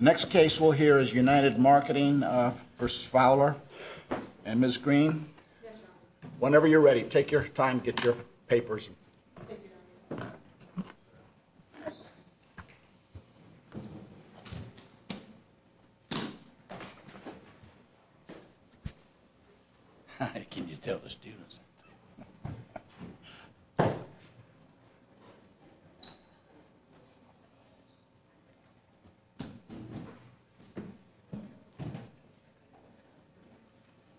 Next case we'll hear is United Marketing v. Fowler. And Ms. Green, whenever you're ready, take your time, get your papers. Nancy Green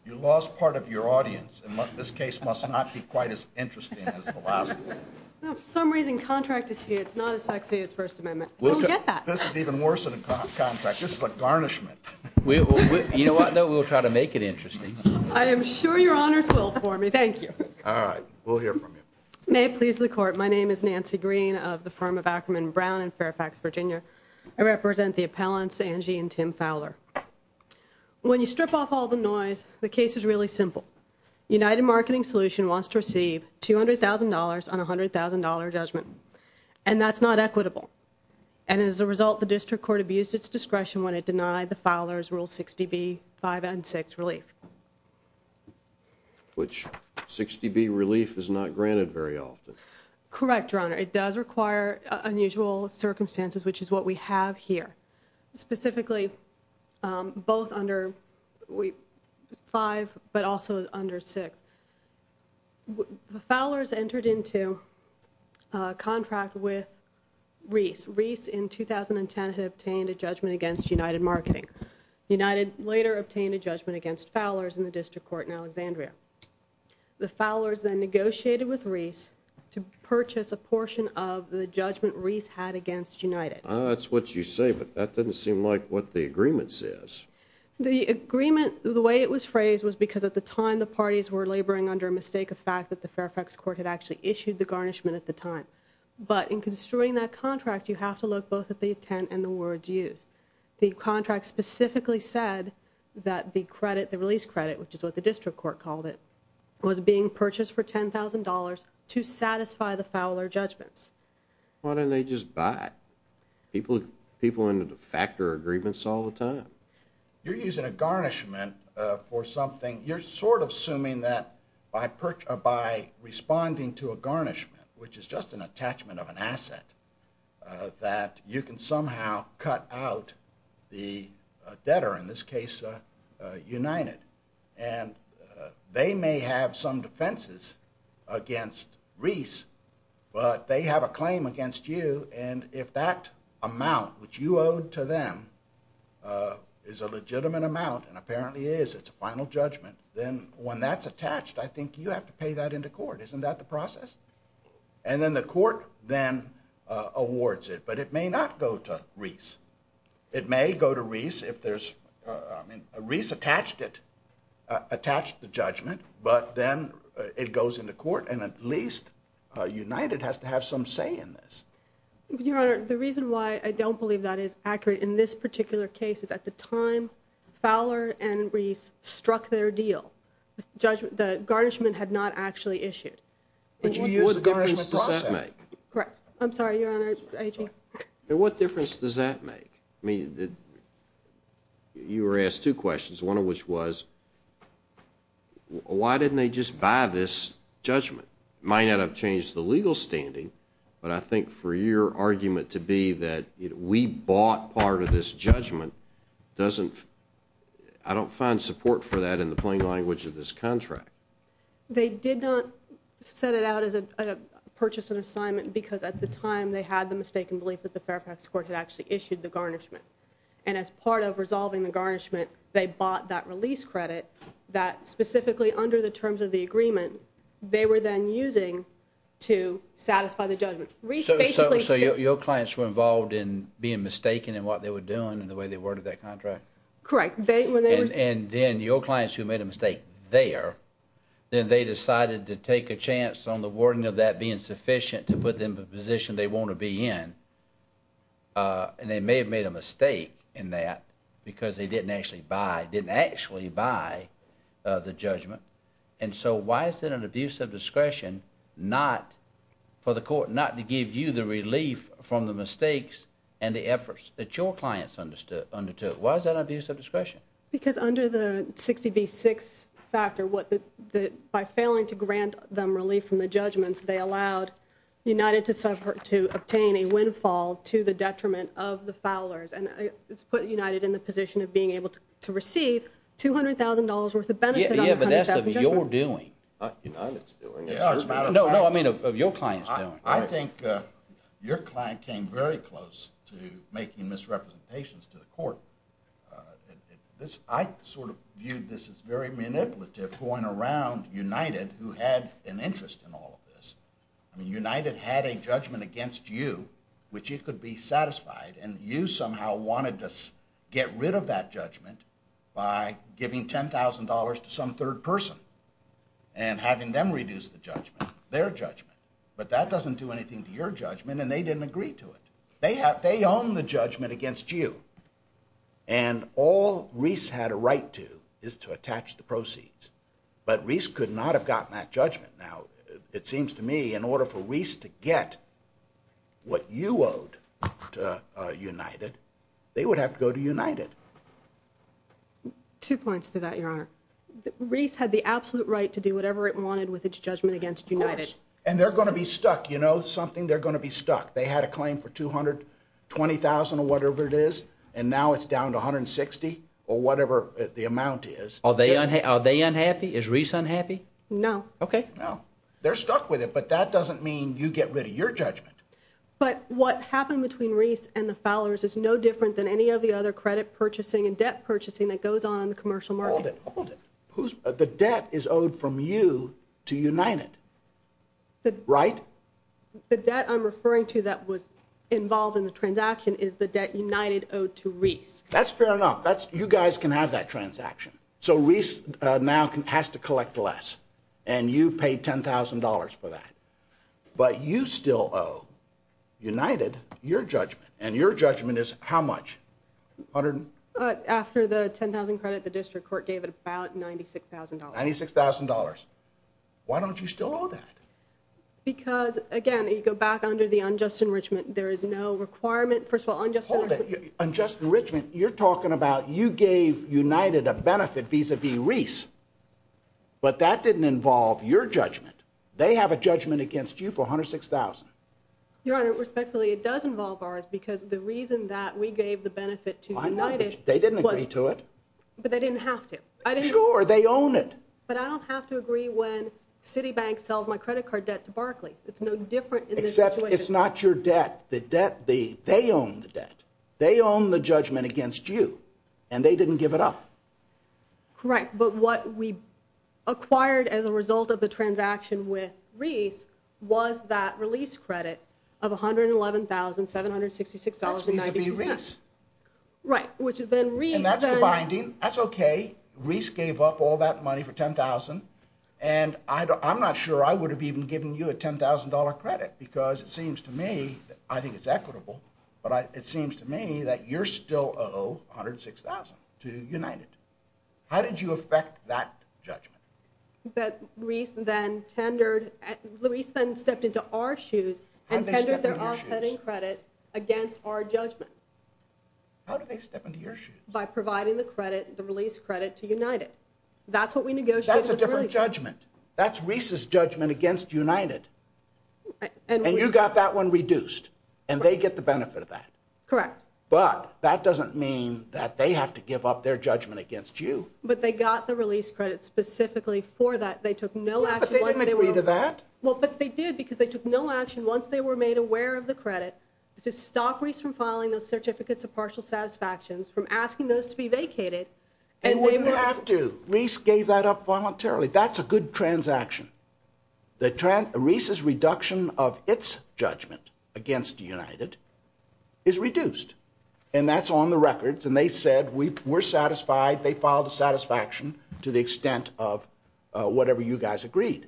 You lost part of your audience, and this case must not be quite as interesting as the last one. Angie Fowler No, for some reason contract dispute is not as sexy as First Amendment. I don't get that. Nancy Green This is even worse than a contract. This is a garnishment. Mr. Green You know what? No, we'll try to make it interesting. Angie Fowler I am sure your honors will for me. Thank you. Mr. Green All right. We'll hear from you. Nancy Green May it please the Court, my name is Nancy Green of the firm of Ackerman Brown in Fairfax, Virginia. I represent the appellants Angie and Tim Fowler. When you strip off all the noise, the case is really simple. United Marketing Solutions wants to receive $200,000 on a $100,000 judgment, and that's not equitable. And as a result, the district court abused its discretion when it denied the Fowlers Rule 60B, 5 and 6 relief. Mr. Green Which 60B relief is not granted very often. Angie Fowler Correct, your honor. It does require unusual circumstances, which is what we have here. Specifically, both under 5 but also under 6. The Fowlers entered into a contract with Reese. Reese in 2010 had obtained a judgment against United Marketing. United later obtained a judgment against Fowlers in the district court in Alexandria. The Fowlers then negotiated with Reese to purchase a portion of the judgment Reese had against United. Mr. Green That's what you say, but that doesn't seem like what the agreement says. Angie Fowler The agreement, the way it was phrased, was because at the time the parties were laboring under a mistake of fact that the Fairfax court had actually issued the garnishment at the time. But in construing that contract, you have to look both at the intent and the words used. The contract specifically said that the credit, the release credit, which is what the district court called it, was being purchased for $10,000 to satisfy the Fowler judgments. Mr. Green Why didn't they just buy it? People end up factoring agreements all the time. You're using a garnishment for something. You're sort of assuming that by responding to a garnishment, which is just an attachment of an asset, that you can somehow cut out the debtor, in this case United. And they may have some defenses against Reese, but they have a claim against you. And if that amount, which you owed to them, is a legitimate amount, and apparently it is, it's a final judgment, then when that's attached, I think you have to pay that into court. Isn't that the process? And then the court then awards it, but it may not go to Reese. It may go to Reese if there's, I mean, Reese attached it, attached the judgment, but then it goes into court, and at least United has to have some say in this. Your Honor, the reason why I don't believe that is accurate in this particular case is at the time Fowler and Reese struck their deal, the garnishment had not actually issued. What difference does that make? I'm sorry, Your Honor. What difference does that make? I mean, you were asked two questions, one of which was, why didn't they just buy this judgment? It might not have changed the legal standing, but I think for your argument to be that we bought part of this judgment doesn't, I don't find support for that in the plain language of this contract. They did not set it out as a purchase and assignment because at the time they had the mistaken belief that the Fairfax court had actually issued the garnishment. And as part of resolving the garnishment, they bought that release credit that specifically under the terms of the agreement they were then using to satisfy the judgment. So your clients were involved in being mistaken in what they were doing and the way they worded that contract? Correct. And then your clients who made a mistake there, then they decided to take a chance on the wording of that being sufficient to put them in the position they want to be in. And they may have made a mistake in that because they didn't actually buy the judgment. And so why is it an abuse of discretion for the court not to give you the relief from the mistakes and the efforts that your clients undertook? Why is that an abuse of discretion? Because under the 60 v. 6 factor, by failing to grant them relief from the judgments, they allowed United to obtain a windfall to the detriment of the Fowlers and put United in the position of being able to receive $200,000 worth of benefit on the $100,000 judgment. Yeah, but that's of your doing. Not United's doing. No, I mean of your client's doing. I think your client came very close to making misrepresentations to the court. I sort of viewed this as very manipulative going around United who had an interest in all of this. I mean United had a judgment against you, which it could be satisfied, and you somehow wanted to get rid of that judgment by giving $10,000 to some third person and having them reduce the judgment, their judgment. But that doesn't do anything to your judgment, and they didn't agree to it. They own the judgment against you, and all Reese had a right to is to attach the proceeds. But Reese could not have gotten that judgment. Now, it seems to me in order for Reese to get what you owed to United, they would have to go to United. Two points to that, Your Honor. Reese had the absolute right to do whatever it wanted with its judgment against United. Of course, and they're going to be stuck. You know something? They're going to be stuck. They had a claim for $220,000 or whatever it is, and now it's down to $160,000 or whatever the amount is. Are they unhappy? Is Reese unhappy? No. Okay. No. They're stuck with it, but that doesn't mean you get rid of your judgment. But what happened between Reese and the Fowlers is no different than any of the other credit purchasing and debt purchasing that goes on in the commercial market. Hold it. Hold it. The debt is owed from you to United, right? The debt I'm referring to that was involved in the transaction is the debt United owed to Reese. That's fair enough. You guys can have that transaction. So Reese now has to collect less, and you paid $10,000 for that. But you still owe United your judgment, and your judgment is how much? After the $10,000 credit, the district court gave it about $96,000. $96,000. Why don't you still owe that? Because, again, you go back under the unjust enrichment. There is no requirement. First of all, unjust enrichment. Hold it. Unjust enrichment, you're talking about you gave United a benefit vis-a-vis Reese, but that didn't involve your judgment. They have a judgment against you for $106,000. Your Honor, respectfully, it does involve ours because the reason that we gave the benefit to United was to Why not? They didn't agree to it. But they didn't have to. Sure. They own it. But I don't have to agree when Citibank sells my credit card debt to Barclays. It's no different in this situation. Except it's not your debt. They own the debt. They own the judgment against you, and they didn't give it up. Correct. But what we acquired as a result of the transaction with Reese was that release credit of $111,766.90. That's vis-a-vis Reese. Right. And that's the binding. That's okay. Reese gave up all that money for $10,000. And I'm not sure I would have even given you a $10,000 credit because it seems to me, I think it's equitable, but it seems to me that you still owe $106,000 to United. How did you affect that judgment? That Reese then tendered, Reese then stepped into our shoes and tendered their offsetting credit against our judgment. How did they step into your shoes? By providing the credit, the release credit to United. That's what we negotiated. That's a different judgment. That's Reese's judgment against United. And you got that one reduced, and they get the benefit of that. Correct. But that doesn't mean that they have to give up their judgment against you. But they got the release credit specifically for that. They took no action. But they didn't agree to that. Well, but they did because they took no action once they were made aware of the credit to stop Reese from filing those certificates of partial satisfactions, from asking those to be vacated. They wouldn't have to. Reese gave that up voluntarily. That's a good transaction. Reese's reduction of its judgment against United is reduced. And that's on the records. And they said we're satisfied. They filed a satisfaction to the extent of whatever you guys agreed.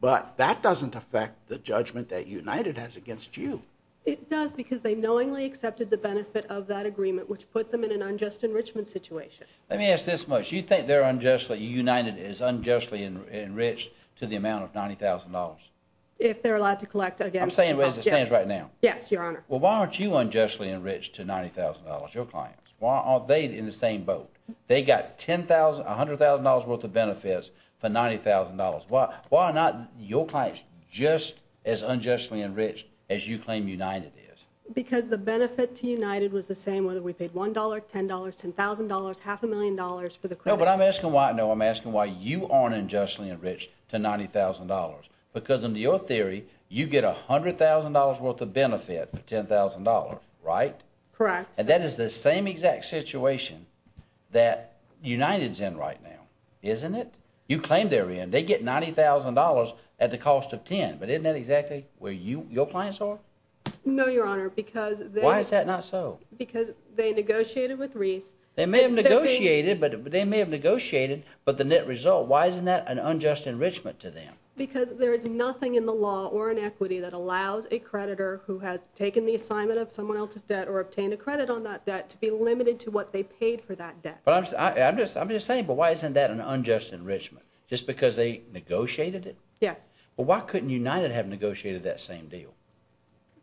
But that doesn't affect the judgment that United has against you. It does because they knowingly accepted the benefit of that agreement, which put them in an unjust enrichment situation. Let me ask this much. Do you think United is unjustly enriched to the amount of $90,000? If they're allowed to collect against me. I'm saying what it stands right now. Yes, Your Honor. Well, why aren't you unjustly enriched to $90,000, your clients? Why aren't they in the same boat? They got $100,000 worth of benefits for $90,000. Why are not your clients just as unjustly enriched as you claim United is? Because the benefit to United was the same whether we paid $1, $10, $10,000, half a million dollars for the credit. No, but I'm asking why you aren't unjustly enriched to $90,000. Because in your theory, you get $100,000 worth of benefit for $10,000, right? Correct. And that is the same exact situation that United is in right now, isn't it? You claim they're in. They get $90,000 at the cost of $10,000. But isn't that exactly where your clients are? No, Your Honor. Why is that not so? Because they negotiated with Reese. They may have negotiated, but the net result, why isn't that an unjust enrichment to them? Because there is nothing in the law or in equity that allows a creditor who has taken the assignment of someone else's debt or obtained a credit on that debt to be limited to what they paid for that debt. I'm just saying, but why isn't that an unjust enrichment? Just because they negotiated it? Yes. But why couldn't United have negotiated that same deal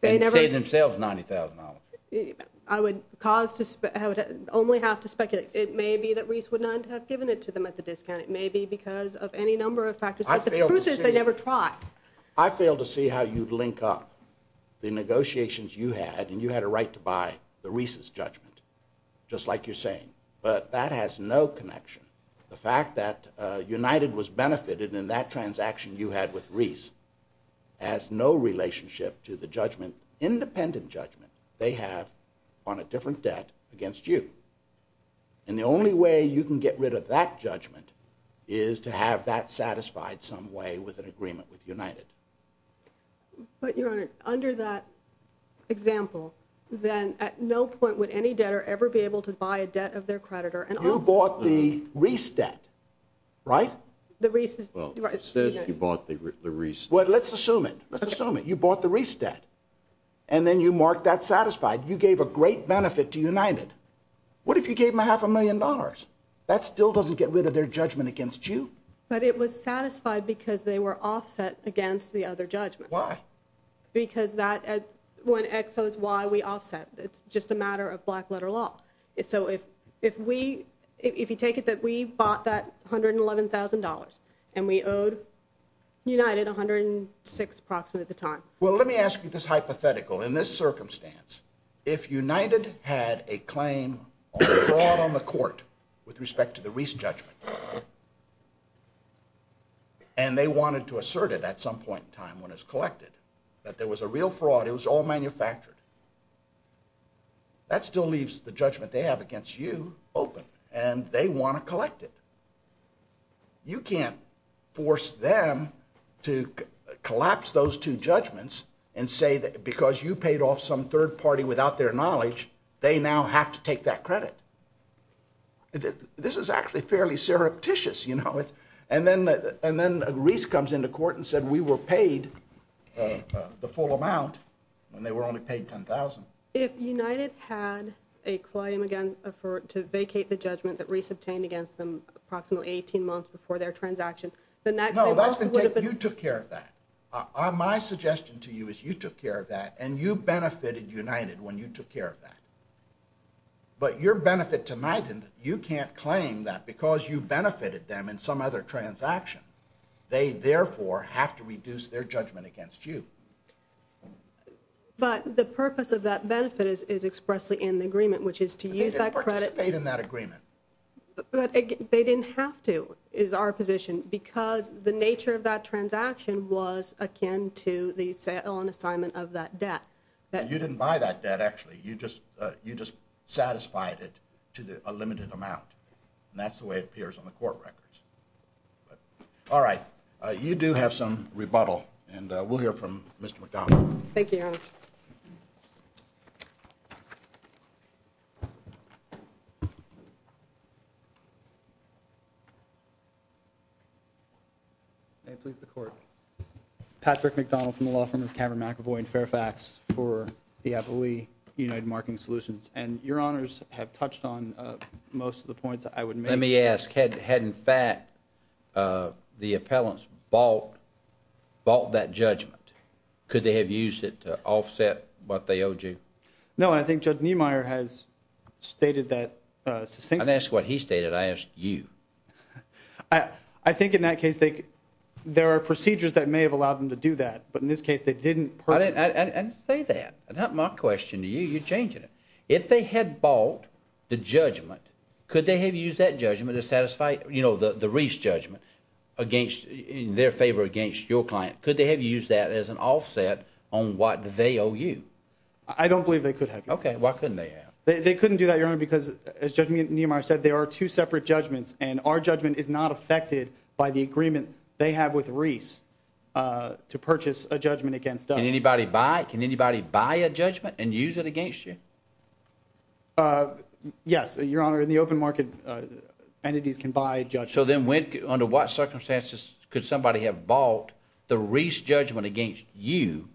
and save themselves $90,000? I would only have to speculate. It may be that Reese would not have given it to them at the discount. It may be because of any number of factors, but the truth is they never tried. I fail to see how you'd link up the negotiations you had, and you had a right to buy the Reese's judgment, just like you're saying. But that has no connection. The fact that United was benefited in that transaction you had with Reese has no relationship to the judgment, independent judgment, they have on a different debt against you. And the only way you can get rid of that judgment is to have that satisfied some way with an agreement with United. But, Your Honor, under that example, then at no point would any debtor ever be able to buy a debt of their creditor. You bought the Reese debt, right? Well, it says you bought the Reese debt. Well, let's assume it. Let's assume it. You bought the Reese debt, and then you mark that satisfied. You gave a great benefit to United. What if you gave them a half a million dollars? That still doesn't get rid of their judgment against you. But it was satisfied because they were offset against the other judgment. Why? Because when X owes Y, we offset. It's just a matter of black-letter law. So if you take it that we bought that $111,000 and we owed United $106,000 approximately at the time. Well, let me ask you this hypothetical. In this circumstance, if United had a claim on fraud on the court with respect to the Reese judgment, and they wanted to assert it at some point in time when it was collected, that there was a real fraud, it was all manufactured, that still leaves the judgment they have against you open, and they want to collect it. You can't force them to collapse those two judgments and say that because you paid off some third party without their knowledge, they now have to take that credit. This is actually fairly surreptitious, you know. And then Reese comes into court and said, we were paid the full amount, and they were only paid $10,000. If United had a claim again to vacate the judgment that Reese obtained against them approximately 18 months before their transaction, then that claim also would have been... No, you took care of that. My suggestion to you is you took care of that, and you benefited United when you took care of that. But your benefit tonight, you can't claim that because you benefited them in some other transaction. They, therefore, have to reduce their judgment against you. But the purpose of that benefit is expressly in the agreement, which is to use that credit... But they didn't participate in that agreement. But they didn't have to, is our position, because the nature of that transaction was akin to the sale and assignment of that debt. You didn't buy that debt, actually. You just satisfied it to a limited amount. And that's the way it appears on the court records. All right. You do have some rebuttal, and we'll hear from Mr. McDonald. Thank you, Your Honor. May it please the Court. Patrick McDonald from the law firm of Cameron McEvoy in Fairfax for the Appleby United Marking Solutions. And Your Honors have touched on most of the points I would make. Let me ask. Had, in fact, the appellants bought that judgment, could they have used it to offset what they owed you? No, and I think Judge Niemeyer has stated that succinctly. I didn't ask what he stated. I asked you. I think in that case, there are procedures that may have allowed them to do that. But in this case, they didn't purchase it. I didn't say that. That's not my question to you. You're changing it. If they had bought the judgment, could they have used that judgment to satisfy, you know, the Reese judgment in their favor against your client? Could they have used that as an offset on what they owe you? I don't believe they could have, Your Honor. Okay. Why couldn't they have? They couldn't do that, Your Honor, because, as Judge Niemeyer said, there are two separate judgments, and our judgment is not affected by the agreement they have with Reese to purchase a judgment against us. Can anybody buy it? And use it against you? Yes, Your Honor. In the open market, entities can buy judgments. So then under what circumstances could somebody have bought the Reese judgment against you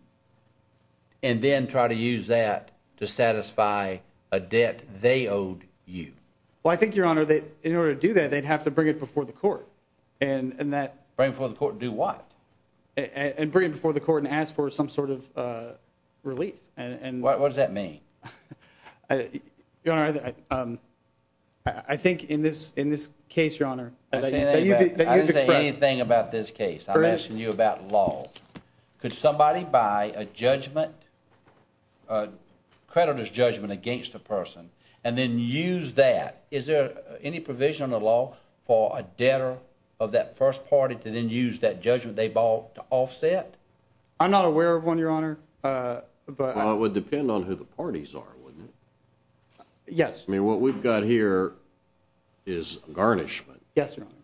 and then try to use that to satisfy a debt they owed you? Well, I think, Your Honor, in order to do that, they'd have to bring it before the court. Bring it before the court and do what? And bring it before the court and ask for some sort of relief. What does that mean? Your Honor, I think in this case, Your Honor, that you've expressed. I didn't say anything about this case. I'm asking you about law. Could somebody buy a judgment, a creditor's judgment against a person, and then use that? Is there any provision in the law for a debtor of that first party to then use that judgment they bought to offset? I'm not aware of one, Your Honor. Well, it would depend on who the parties are, wouldn't it? Yes. I mean, what we've got here is a garnishment. Yes, Your Honor.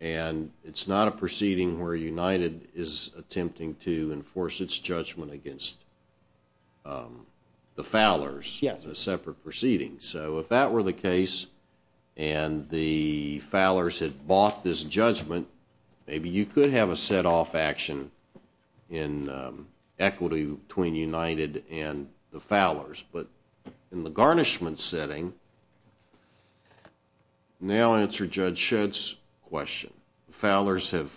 And it's not a proceeding where United is attempting to enforce its judgment against the Fowlers. Yes. A separate proceeding. So if that were the case and the Fowlers had bought this judgment, maybe you could have a set-off action in equity between United and the Fowlers. But in the garnishment setting, now answer Judge Shedd's question. The Fowlers have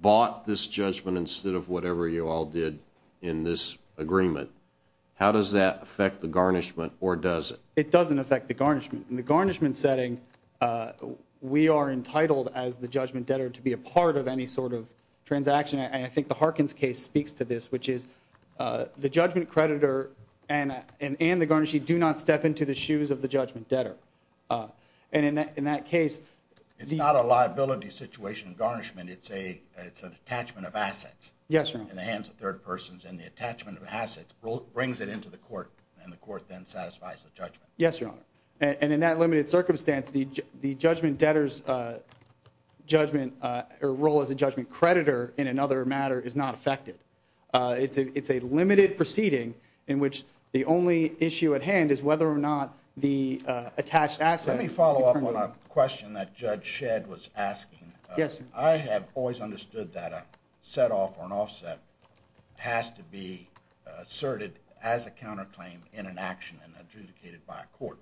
bought this judgment instead of whatever you all did in this agreement. How does that affect the garnishment, or does it? It doesn't affect the garnishment. In the garnishment setting, we are entitled as the judgment debtor to be a part of any sort of transaction. And I think the Harkins case speaks to this, which is the judgment creditor and the garnisher do not step into the shoes of the judgment debtor. And in that case the – It's not a liability situation in garnishment. It's an attachment of assets. Yes, Your Honor. In the hands of third persons. And the attachment of assets brings it into the court, and the court then satisfies the judgment. Yes, Your Honor. And in that limited circumstance, the judgment debtor's judgment or role as a judgment creditor in another matter is not affected. It's a limited proceeding in which the only issue at hand is whether or not the attached assets. Let me follow up on a question that Judge Shedd was asking. Yes, sir. I have always understood that a set-off or an offset has to be asserted as a counterclaim in an action and adjudicated by a court.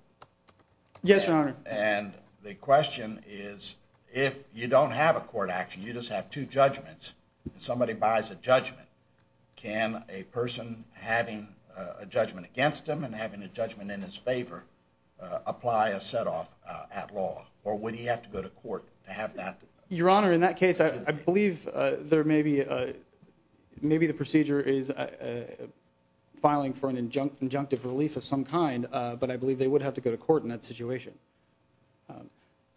Yes, Your Honor. And the question is, if you don't have a court action, you just have two judgments, and somebody buys a judgment, can a person having a judgment against them and having a judgment in his favor apply a set-off at law? Or would he have to go to court to have that? Your Honor, in that case, I believe there may be a – they may be filing for an injunctive relief of some kind, but I believe they would have to go to court in that situation.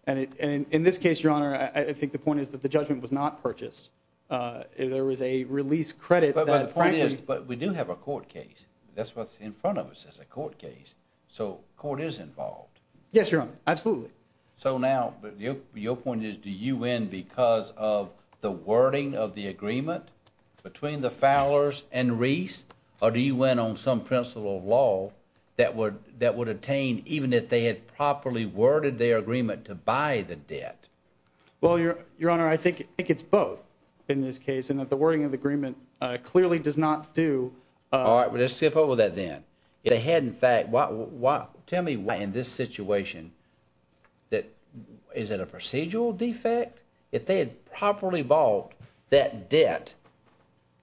And in this case, Your Honor, I think the point is that the judgment was not purchased. There was a release credit that frankly – But the point is, we do have a court case. That's what's in front of us is a court case, so court is involved. Yes, Your Honor, absolutely. So now your point is, do you win because of the wording of the agreement between the Fowlers and Reese, or do you win on some principle of law that would attain even if they had properly worded their agreement to buy the debt? Well, Your Honor, I think it's both in this case, in that the wording of the agreement clearly does not do – All right, well, let's skip over that then. If they had in fact – tell me why in this situation that – is it a procedural defect? If they had properly bought that debt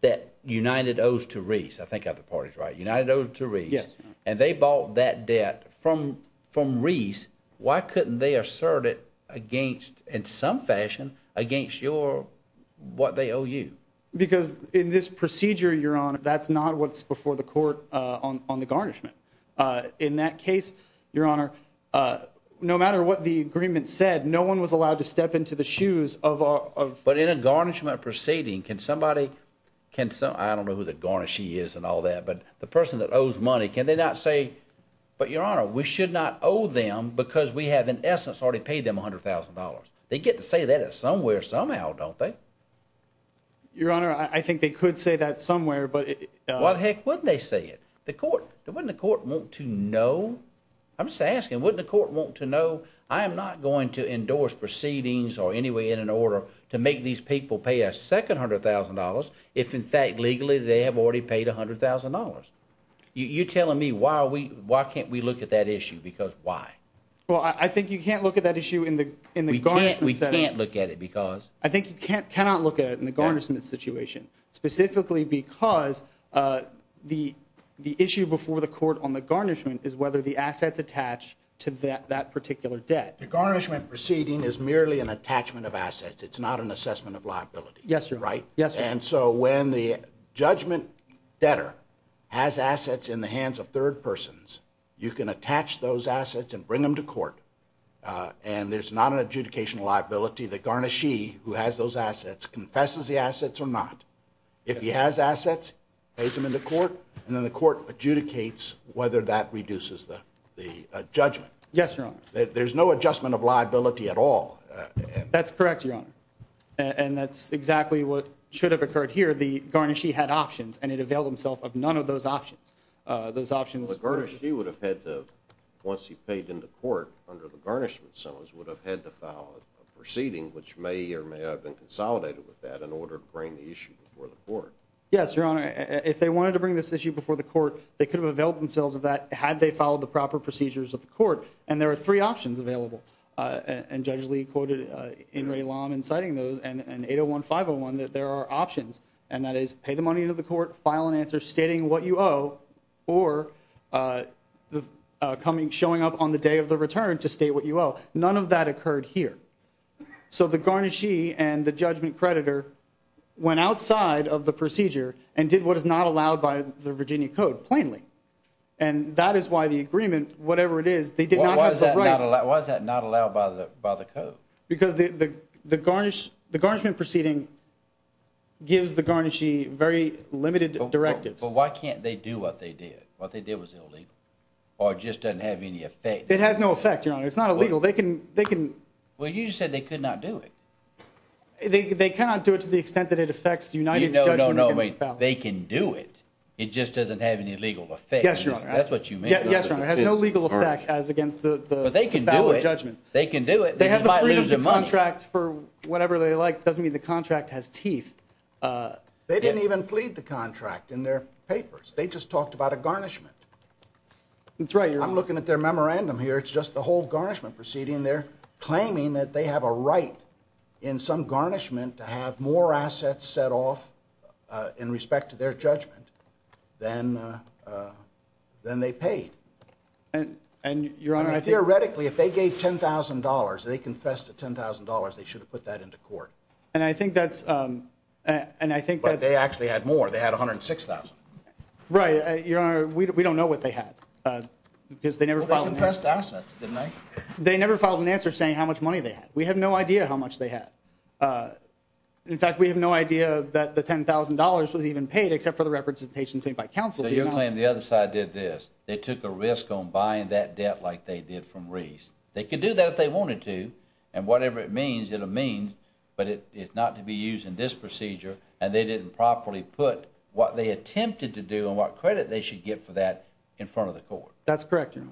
that United owes to Reese – I think other parties are right – United owes to Reese, and they bought that debt from Reese, why couldn't they assert it against – in some fashion – against your – what they owe you? Because in this procedure, Your Honor, that's not what's before the court on the garnishment. In that case, Your Honor, no matter what the agreement said, no one was allowed to step into the shoes of – But in a garnishment proceeding, can somebody – I don't know who the garnishee is and all that, but the person that owes money, can they not say, but Your Honor, we should not owe them because we have in essence already paid them $100,000. They get to say that somewhere somehow, don't they? Your Honor, I think they could say that somewhere, but – Why the heck wouldn't they say it? The court – wouldn't the court want to know? I'm just asking, wouldn't the court want to know? I am not going to endorse proceedings or any way in an order to make these people pay a second $100,000 if in fact legally they have already paid $100,000. You're telling me why can't we look at that issue because why? Well, I think you can't look at that issue in the garnishment setting. We can't look at it because – I think you cannot look at it in the garnishment situation specifically because the issue before the court on the garnishment is whether the assets attach to that particular debt. The garnishment proceeding is merely an attachment of assets. It's not an assessment of liability. Yes, Your Honor. Right? Yes, Your Honor. And so when the judgment debtor has assets in the hands of third persons, you can attach those assets and bring them to court, and there's not an adjudication of liability. The garnishee who has those assets confesses the assets or not. If he has assets, pays them into court, and then the court adjudicates whether that reduces the judgment. Yes, Your Honor. There's no adjustment of liability at all. That's correct, Your Honor, and that's exactly what should have occurred here. The garnishee had options, and he availed himself of none of those options. The garnishee would have had to, once he paid into court under the garnishment, would have had to file a proceeding, which may or may not have been consolidated with that, in order to bring the issue before the court. Yes, Your Honor. If they wanted to bring this issue before the court, they could have availed themselves of that had they followed the proper procedures of the court, and there are three options available, and Judge Lee quoted In re Lam in citing those, and 801-501 that there are options, and that is pay the money into the court, file an answer stating what you owe, or showing up on the day of the return to state what you owe. None of that occurred here. So the garnishee and the judgment creditor went outside of the procedure and did what is not allowed by the Virginia Code plainly, and that is why the agreement, whatever it is, they did not have the right. Why is that not allowed by the Code? Because the garnishment proceeding gives the garnishee very limited directives. But why can't they do what they did? What they did was illegal, or it just doesn't have any effect. It has no effect, Your Honor. It's not illegal. Well, you just said they could not do it. They cannot do it to the extent that it affects United's judgment. No, no, no. They can do it. It just doesn't have any legal effect. Yes, Your Honor. That's what you mean. Yes, Your Honor. It has no legal effect as against the foul judgments. But they can do it. They can do it. They have the freedom to contract for whatever they like. It doesn't mean the contract has teeth. They didn't even plead the contract in their papers. They just talked about a garnishment. That's right. I'm looking at their memorandum here. It's just the whole garnishment proceeding. They're claiming that they have a right in some garnishment to have more assets set off in respect to their judgment than they paid. And, Your Honor, I think— Theoretically, if they gave $10,000, they confessed to $10,000, they should have put that into court. And I think that's— But they actually had more. They had $106,000. Right. Your Honor, we don't know what they had. Well, they confessed to assets, didn't they? They never filed an answer saying how much money they had. We have no idea how much they had. In fact, we have no idea that the $10,000 was even paid except for the representation by counsel. So you're claiming the other side did this. They took a risk on buying that debt like they did from Reese. They could do that if they wanted to, and whatever it means, it'll mean, but it's not to be used in this procedure, and they didn't properly put what they attempted to do and what credit they should get for that in front of the court. That's correct, Your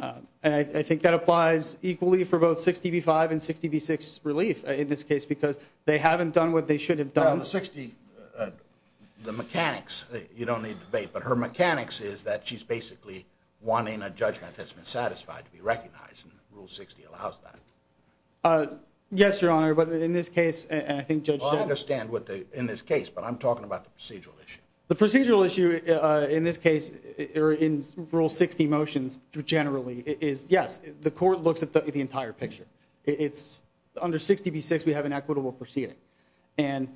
Honor. And I think that applies equally for both 60 v. 5 and 60 v. 6 relief in this case because they haven't done what they should have done. Well, the 60— The mechanics, you don't need to debate, but her mechanics is that she's basically wanting a judgment that's been satisfied to be recognized, and Rule 60 allows that. Yes, Your Honor, but in this case, and I think Judge— Well, I understand what the—in this case, but I'm talking about the procedural issue. The procedural issue in this case, or in Rule 60 motions generally, is, yes, the court looks at the entire picture. It's under 60 v. 6, we have an equitable proceeding, and—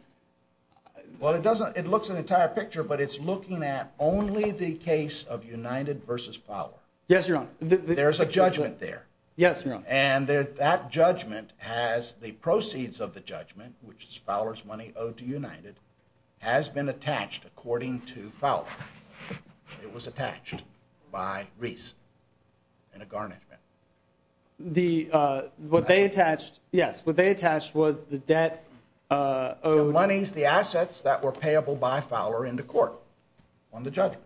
Well, it doesn't—it looks at the entire picture, but it's looking at only the case of United v. Fowler. Yes, Your Honor. There's a judgment there. Yes, Your Honor. And that judgment has the proceeds of the judgment, which is Fowler's money owed to United, has been attached according to Fowler. It was attached by Reese in a garnishment. The—what they attached— Yes, what they attached was the debt owed— The monies, the assets that were payable by Fowler into court on the judgment.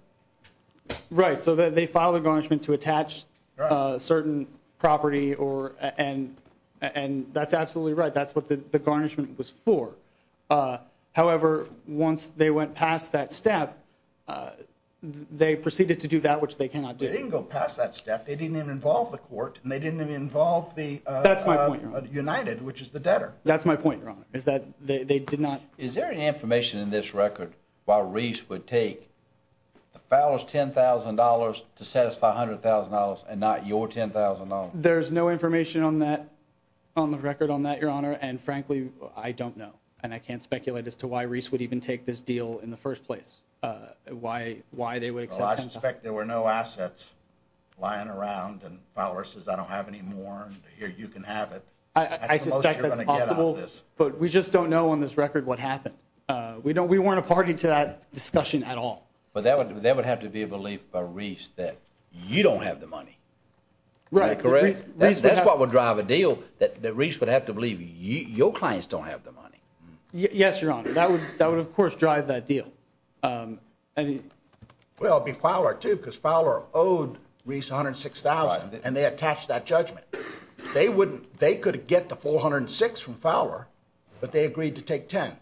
Right, so they filed a garnishment to attach certain property, and that's absolutely right. That's what the garnishment was for. However, once they went past that step, they proceeded to do that which they cannot do. They didn't go past that step. They didn't even involve the court, and they didn't even involve the— That's my point, Your Honor. —United, which is the debtor. That's my point, Your Honor, is that they did not— Is there any information in this record why Reese would take Fowler's $10,000 to satisfy $100,000 and not your $10,000? There's no information on that, on the record on that, Your Honor, and frankly, I don't know, and I can't speculate as to why Reese would even take this deal in the first place, why they would accept $10,000. Well, I suspect there were no assets lying around, and Fowler says, I don't have any more, and here, you can have it. That's the most you're going to get out of this. I suspect that's possible, but we just don't know on this record what happened. We weren't a party to that discussion at all. But that would have to be a belief by Reese that you don't have the money. Right. That's what would drive a deal that Reese would have to believe your clients don't have the money. Yes, Your Honor. That would, of course, drive that deal. Well, it would be Fowler, too, because Fowler owed Reese $106,000, and they attached that judgment. They could get the full $106,000 from Fowler, but they agreed to take $10,000.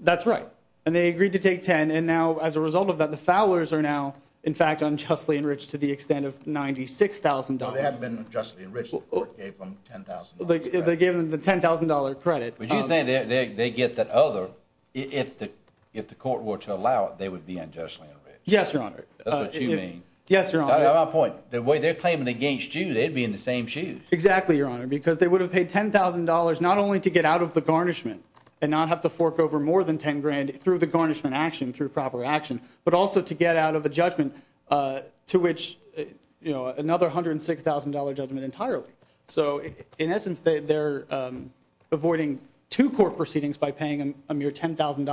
That's right, and they agreed to take $10,000, and now, as a result of that, the Fowlers are now, in fact, unjustly enriched to the extent of $96,000. No, they haven't been unjustly enriched. The court gave them $10,000 credit. They gave them the $10,000 credit. But you think they get that other, if the court were to allow it, they would be unjustly enriched. Yes, Your Honor. That's what you mean. Yes, Your Honor. That's my point. The way they're claiming against you, they'd be in the same shoes. Exactly, Your Honor, because they would have paid $10,000 not only to get out of the garnishment and not have to fork over more than $10,000 through the garnishment action, through proper action, but also to get out of the judgment to which, you know, another $106,000 judgment entirely. So, in essence, they're avoiding two court proceedings by paying a mere $10,000 on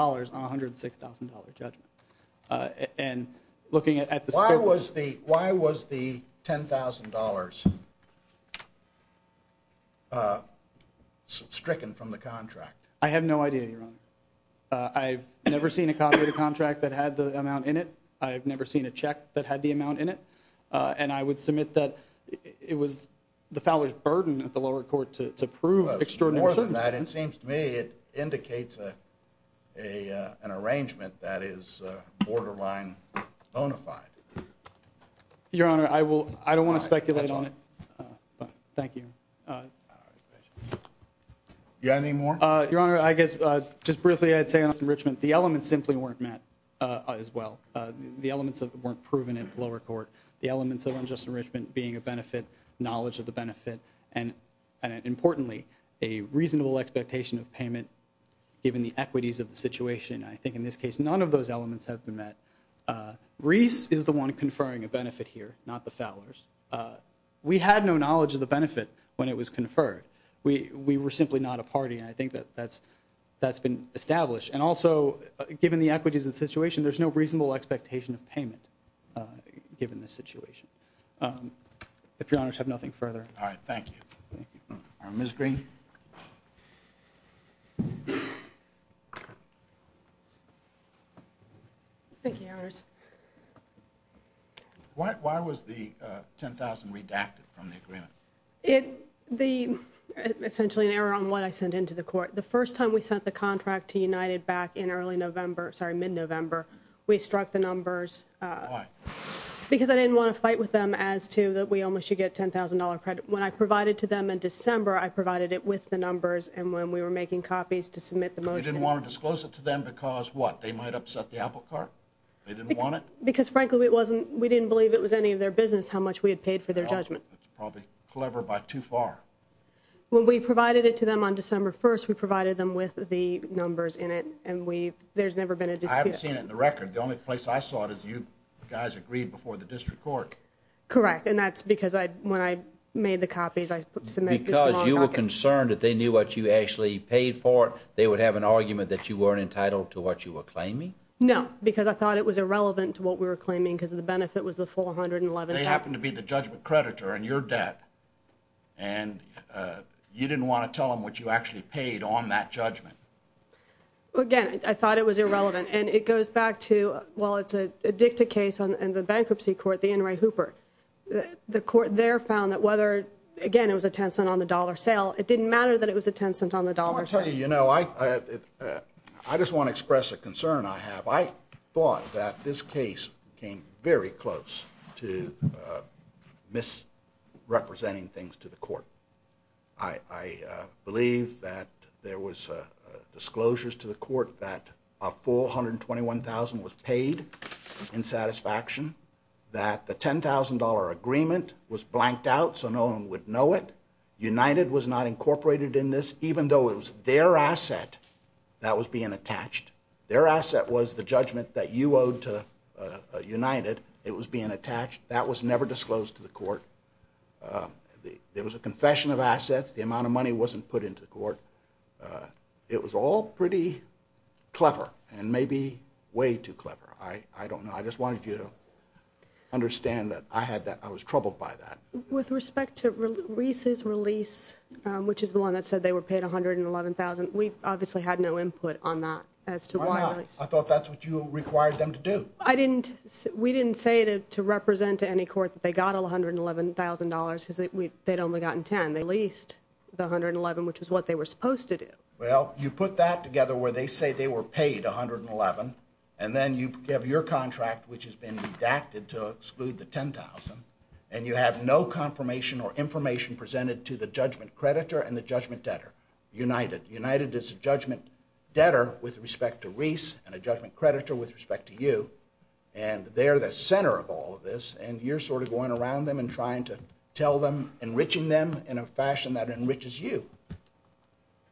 a $106,000 judgment. And looking at the scope... Why was the $10,000 stricken from the contract? I have no idea, Your Honor. I've never seen a copy of the contract that had the amount in it. I've never seen a check that had the amount in it. And I would submit that it was the Fowler's burden at the lower court to prove extraordinary... More than that, it seems to me it indicates an arrangement that is borderline bona fide. Your Honor, I don't want to speculate on it. Fine. That's all. Fine. Thank you. All right. You got any more? Your Honor, I guess, just briefly, I'd say on this enrichment, the elements simply weren't met as well. The elements weren't proven at the lower court. The elements of unjust enrichment being a benefit, knowledge of the benefit, and importantly, a reasonable expectation of payment given the equities of the situation. I think in this case, none of those elements have been met. Reese is the one conferring a benefit here, not the Fowler's. We had no knowledge of the benefit when it was conferred. We were simply not a party, and I think that that's been established. And also, given the equities of the situation, there's no reasonable expectation of payment given this situation. If Your Honors have nothing further... All right. Thank you. Thank you. Ms. Green? Thank you, Your Honors. Why was the $10,000 redacted from the agreement? It... The... Essentially an error on what I sent into the court. The first time we sent the contract to United back in early November, sorry, mid-November, we struck the numbers... Why? Because I didn't want to fight with them as to that we only should get $10,000 credit. When I provided to them in December, I provided it with the numbers, and when we were making copies to submit the motion... You didn't want to disclose it to them because what? They might upset the apple cart? They didn't want it? Because, frankly, it wasn't... We didn't believe it was any of their business how much we had paid for their judgment. That's probably clever by too far. When we provided it to them on December 1st, we provided them with the numbers in it, and we... There's never been a dispute. I haven't seen it in the record. The only place I saw it is you guys agreed before the district court. Correct, and that's because I... When I made the copies, I submitted... Because you were concerned that they knew what you actually paid for, they would have an argument that you weren't entitled to what you were claiming? No, because I thought it was irrelevant to what we were claiming because the benefit was the full $111,000. They happened to be the judgment creditor in your debt, and you didn't want to tell them what you actually paid on that judgment. Again, I thought it was irrelevant, and it goes back to... Well, it's a dicta case in the bankruptcy court, the N. Ray Hooper. The court there found that whether... Again, it was a 10 cent on the dollar sale. It didn't matter that it was a 10 cent on the dollar sale. You know, I... I just want to express a concern I have. I thought that this case came very close to misrepresenting things to the court. I believe that there was disclosures to the court that a full $121,000 was paid in satisfaction, that the $10,000 agreement was blanked out so no one would know it. United was not incorporated in this, even though it was their asset that was being attached. Their asset was the judgment that you owed to United. It was being attached. That was never disclosed to the court. There was a confession of assets. The amount of money wasn't put into the court. It was all pretty clever, and maybe way too clever. I don't know. I just wanted you to understand that I had that. I was troubled by that. With respect to Reese's release, which is the one that said they were paid $111,000, we obviously had no input on that as to why... Why not? I thought that's what you required them to do. I didn't... We didn't say to represent to any court that they got $111,000 because they'd only gotten $10,000. They leased the $111,000, which is what they were supposed to do. Well, you put that together where they say they were paid $111,000, and then you have your contract, which has been redacted to exclude the $10,000, and you have no confirmation or information presented to the judgment creditor and the judgment debtor. United. United is a judgment debtor with respect to Reese and a judgment creditor with respect to you, and they're the center of all of this, and you're sort of going around them and trying to tell them, enriching them in a fashion that enriches you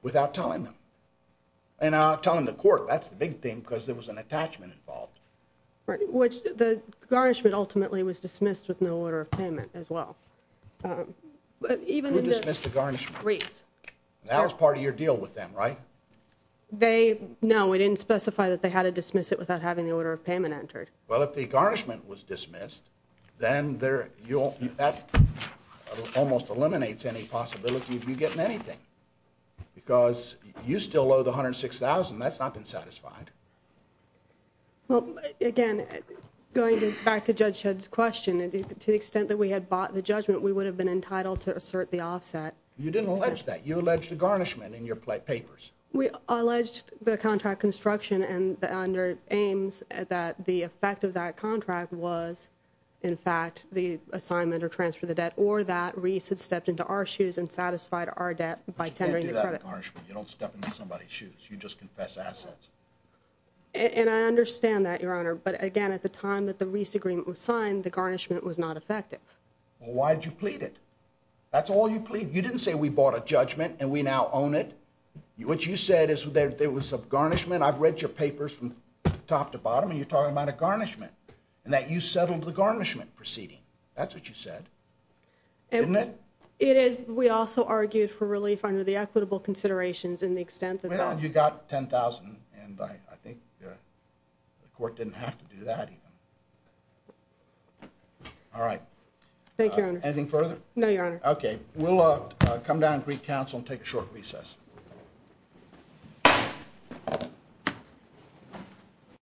without telling them. And not telling the court. That's the big thing, because there was an attachment involved. Right. The garnishment ultimately was dismissed with no order of payment as well. Who dismissed the garnishment? Reese. That was part of your deal with them, right? They... No, we didn't specify that they had to dismiss it without having the order of payment entered. Well, if the garnishment was dismissed, then that almost eliminates any possibility of you getting anything, because you still owe the $106,000. That's not been satisfied. Well, again, going back to Judge Shedd's question, to the extent that we had bought the judgment, we would have been entitled to assert the offset. You didn't allege that. You alleged the garnishment in your papers. We alleged the contract construction and under Ames, that the effect of that contract was, in fact, the assignment or transfer of the debt, or that Reese had stepped into our shoes and satisfied our debt by tendering the credit. You can't do that with garnishment. You don't step into somebody's shoes. You just confess assets. And I understand that, Your Honor, but again, at the time that the Reese agreement was signed, the garnishment was not effective. Well, why did you plead it? That's all you plead? You didn't say, we bought a judgment and we now own it. What you said is there was a garnishment. I've read your papers from top to bottom and you're talking about a garnishment and that you settled the garnishment proceeding. That's what you said. Isn't it? It is. We also argued for relief under the equitable considerations in the extent that... Well, you got $10,000 and I think the court didn't have to do that. All right. Thank you, Your Honor. Anything further? No, Your Honor. Okay. We'll come down to recouncil and take a short recess.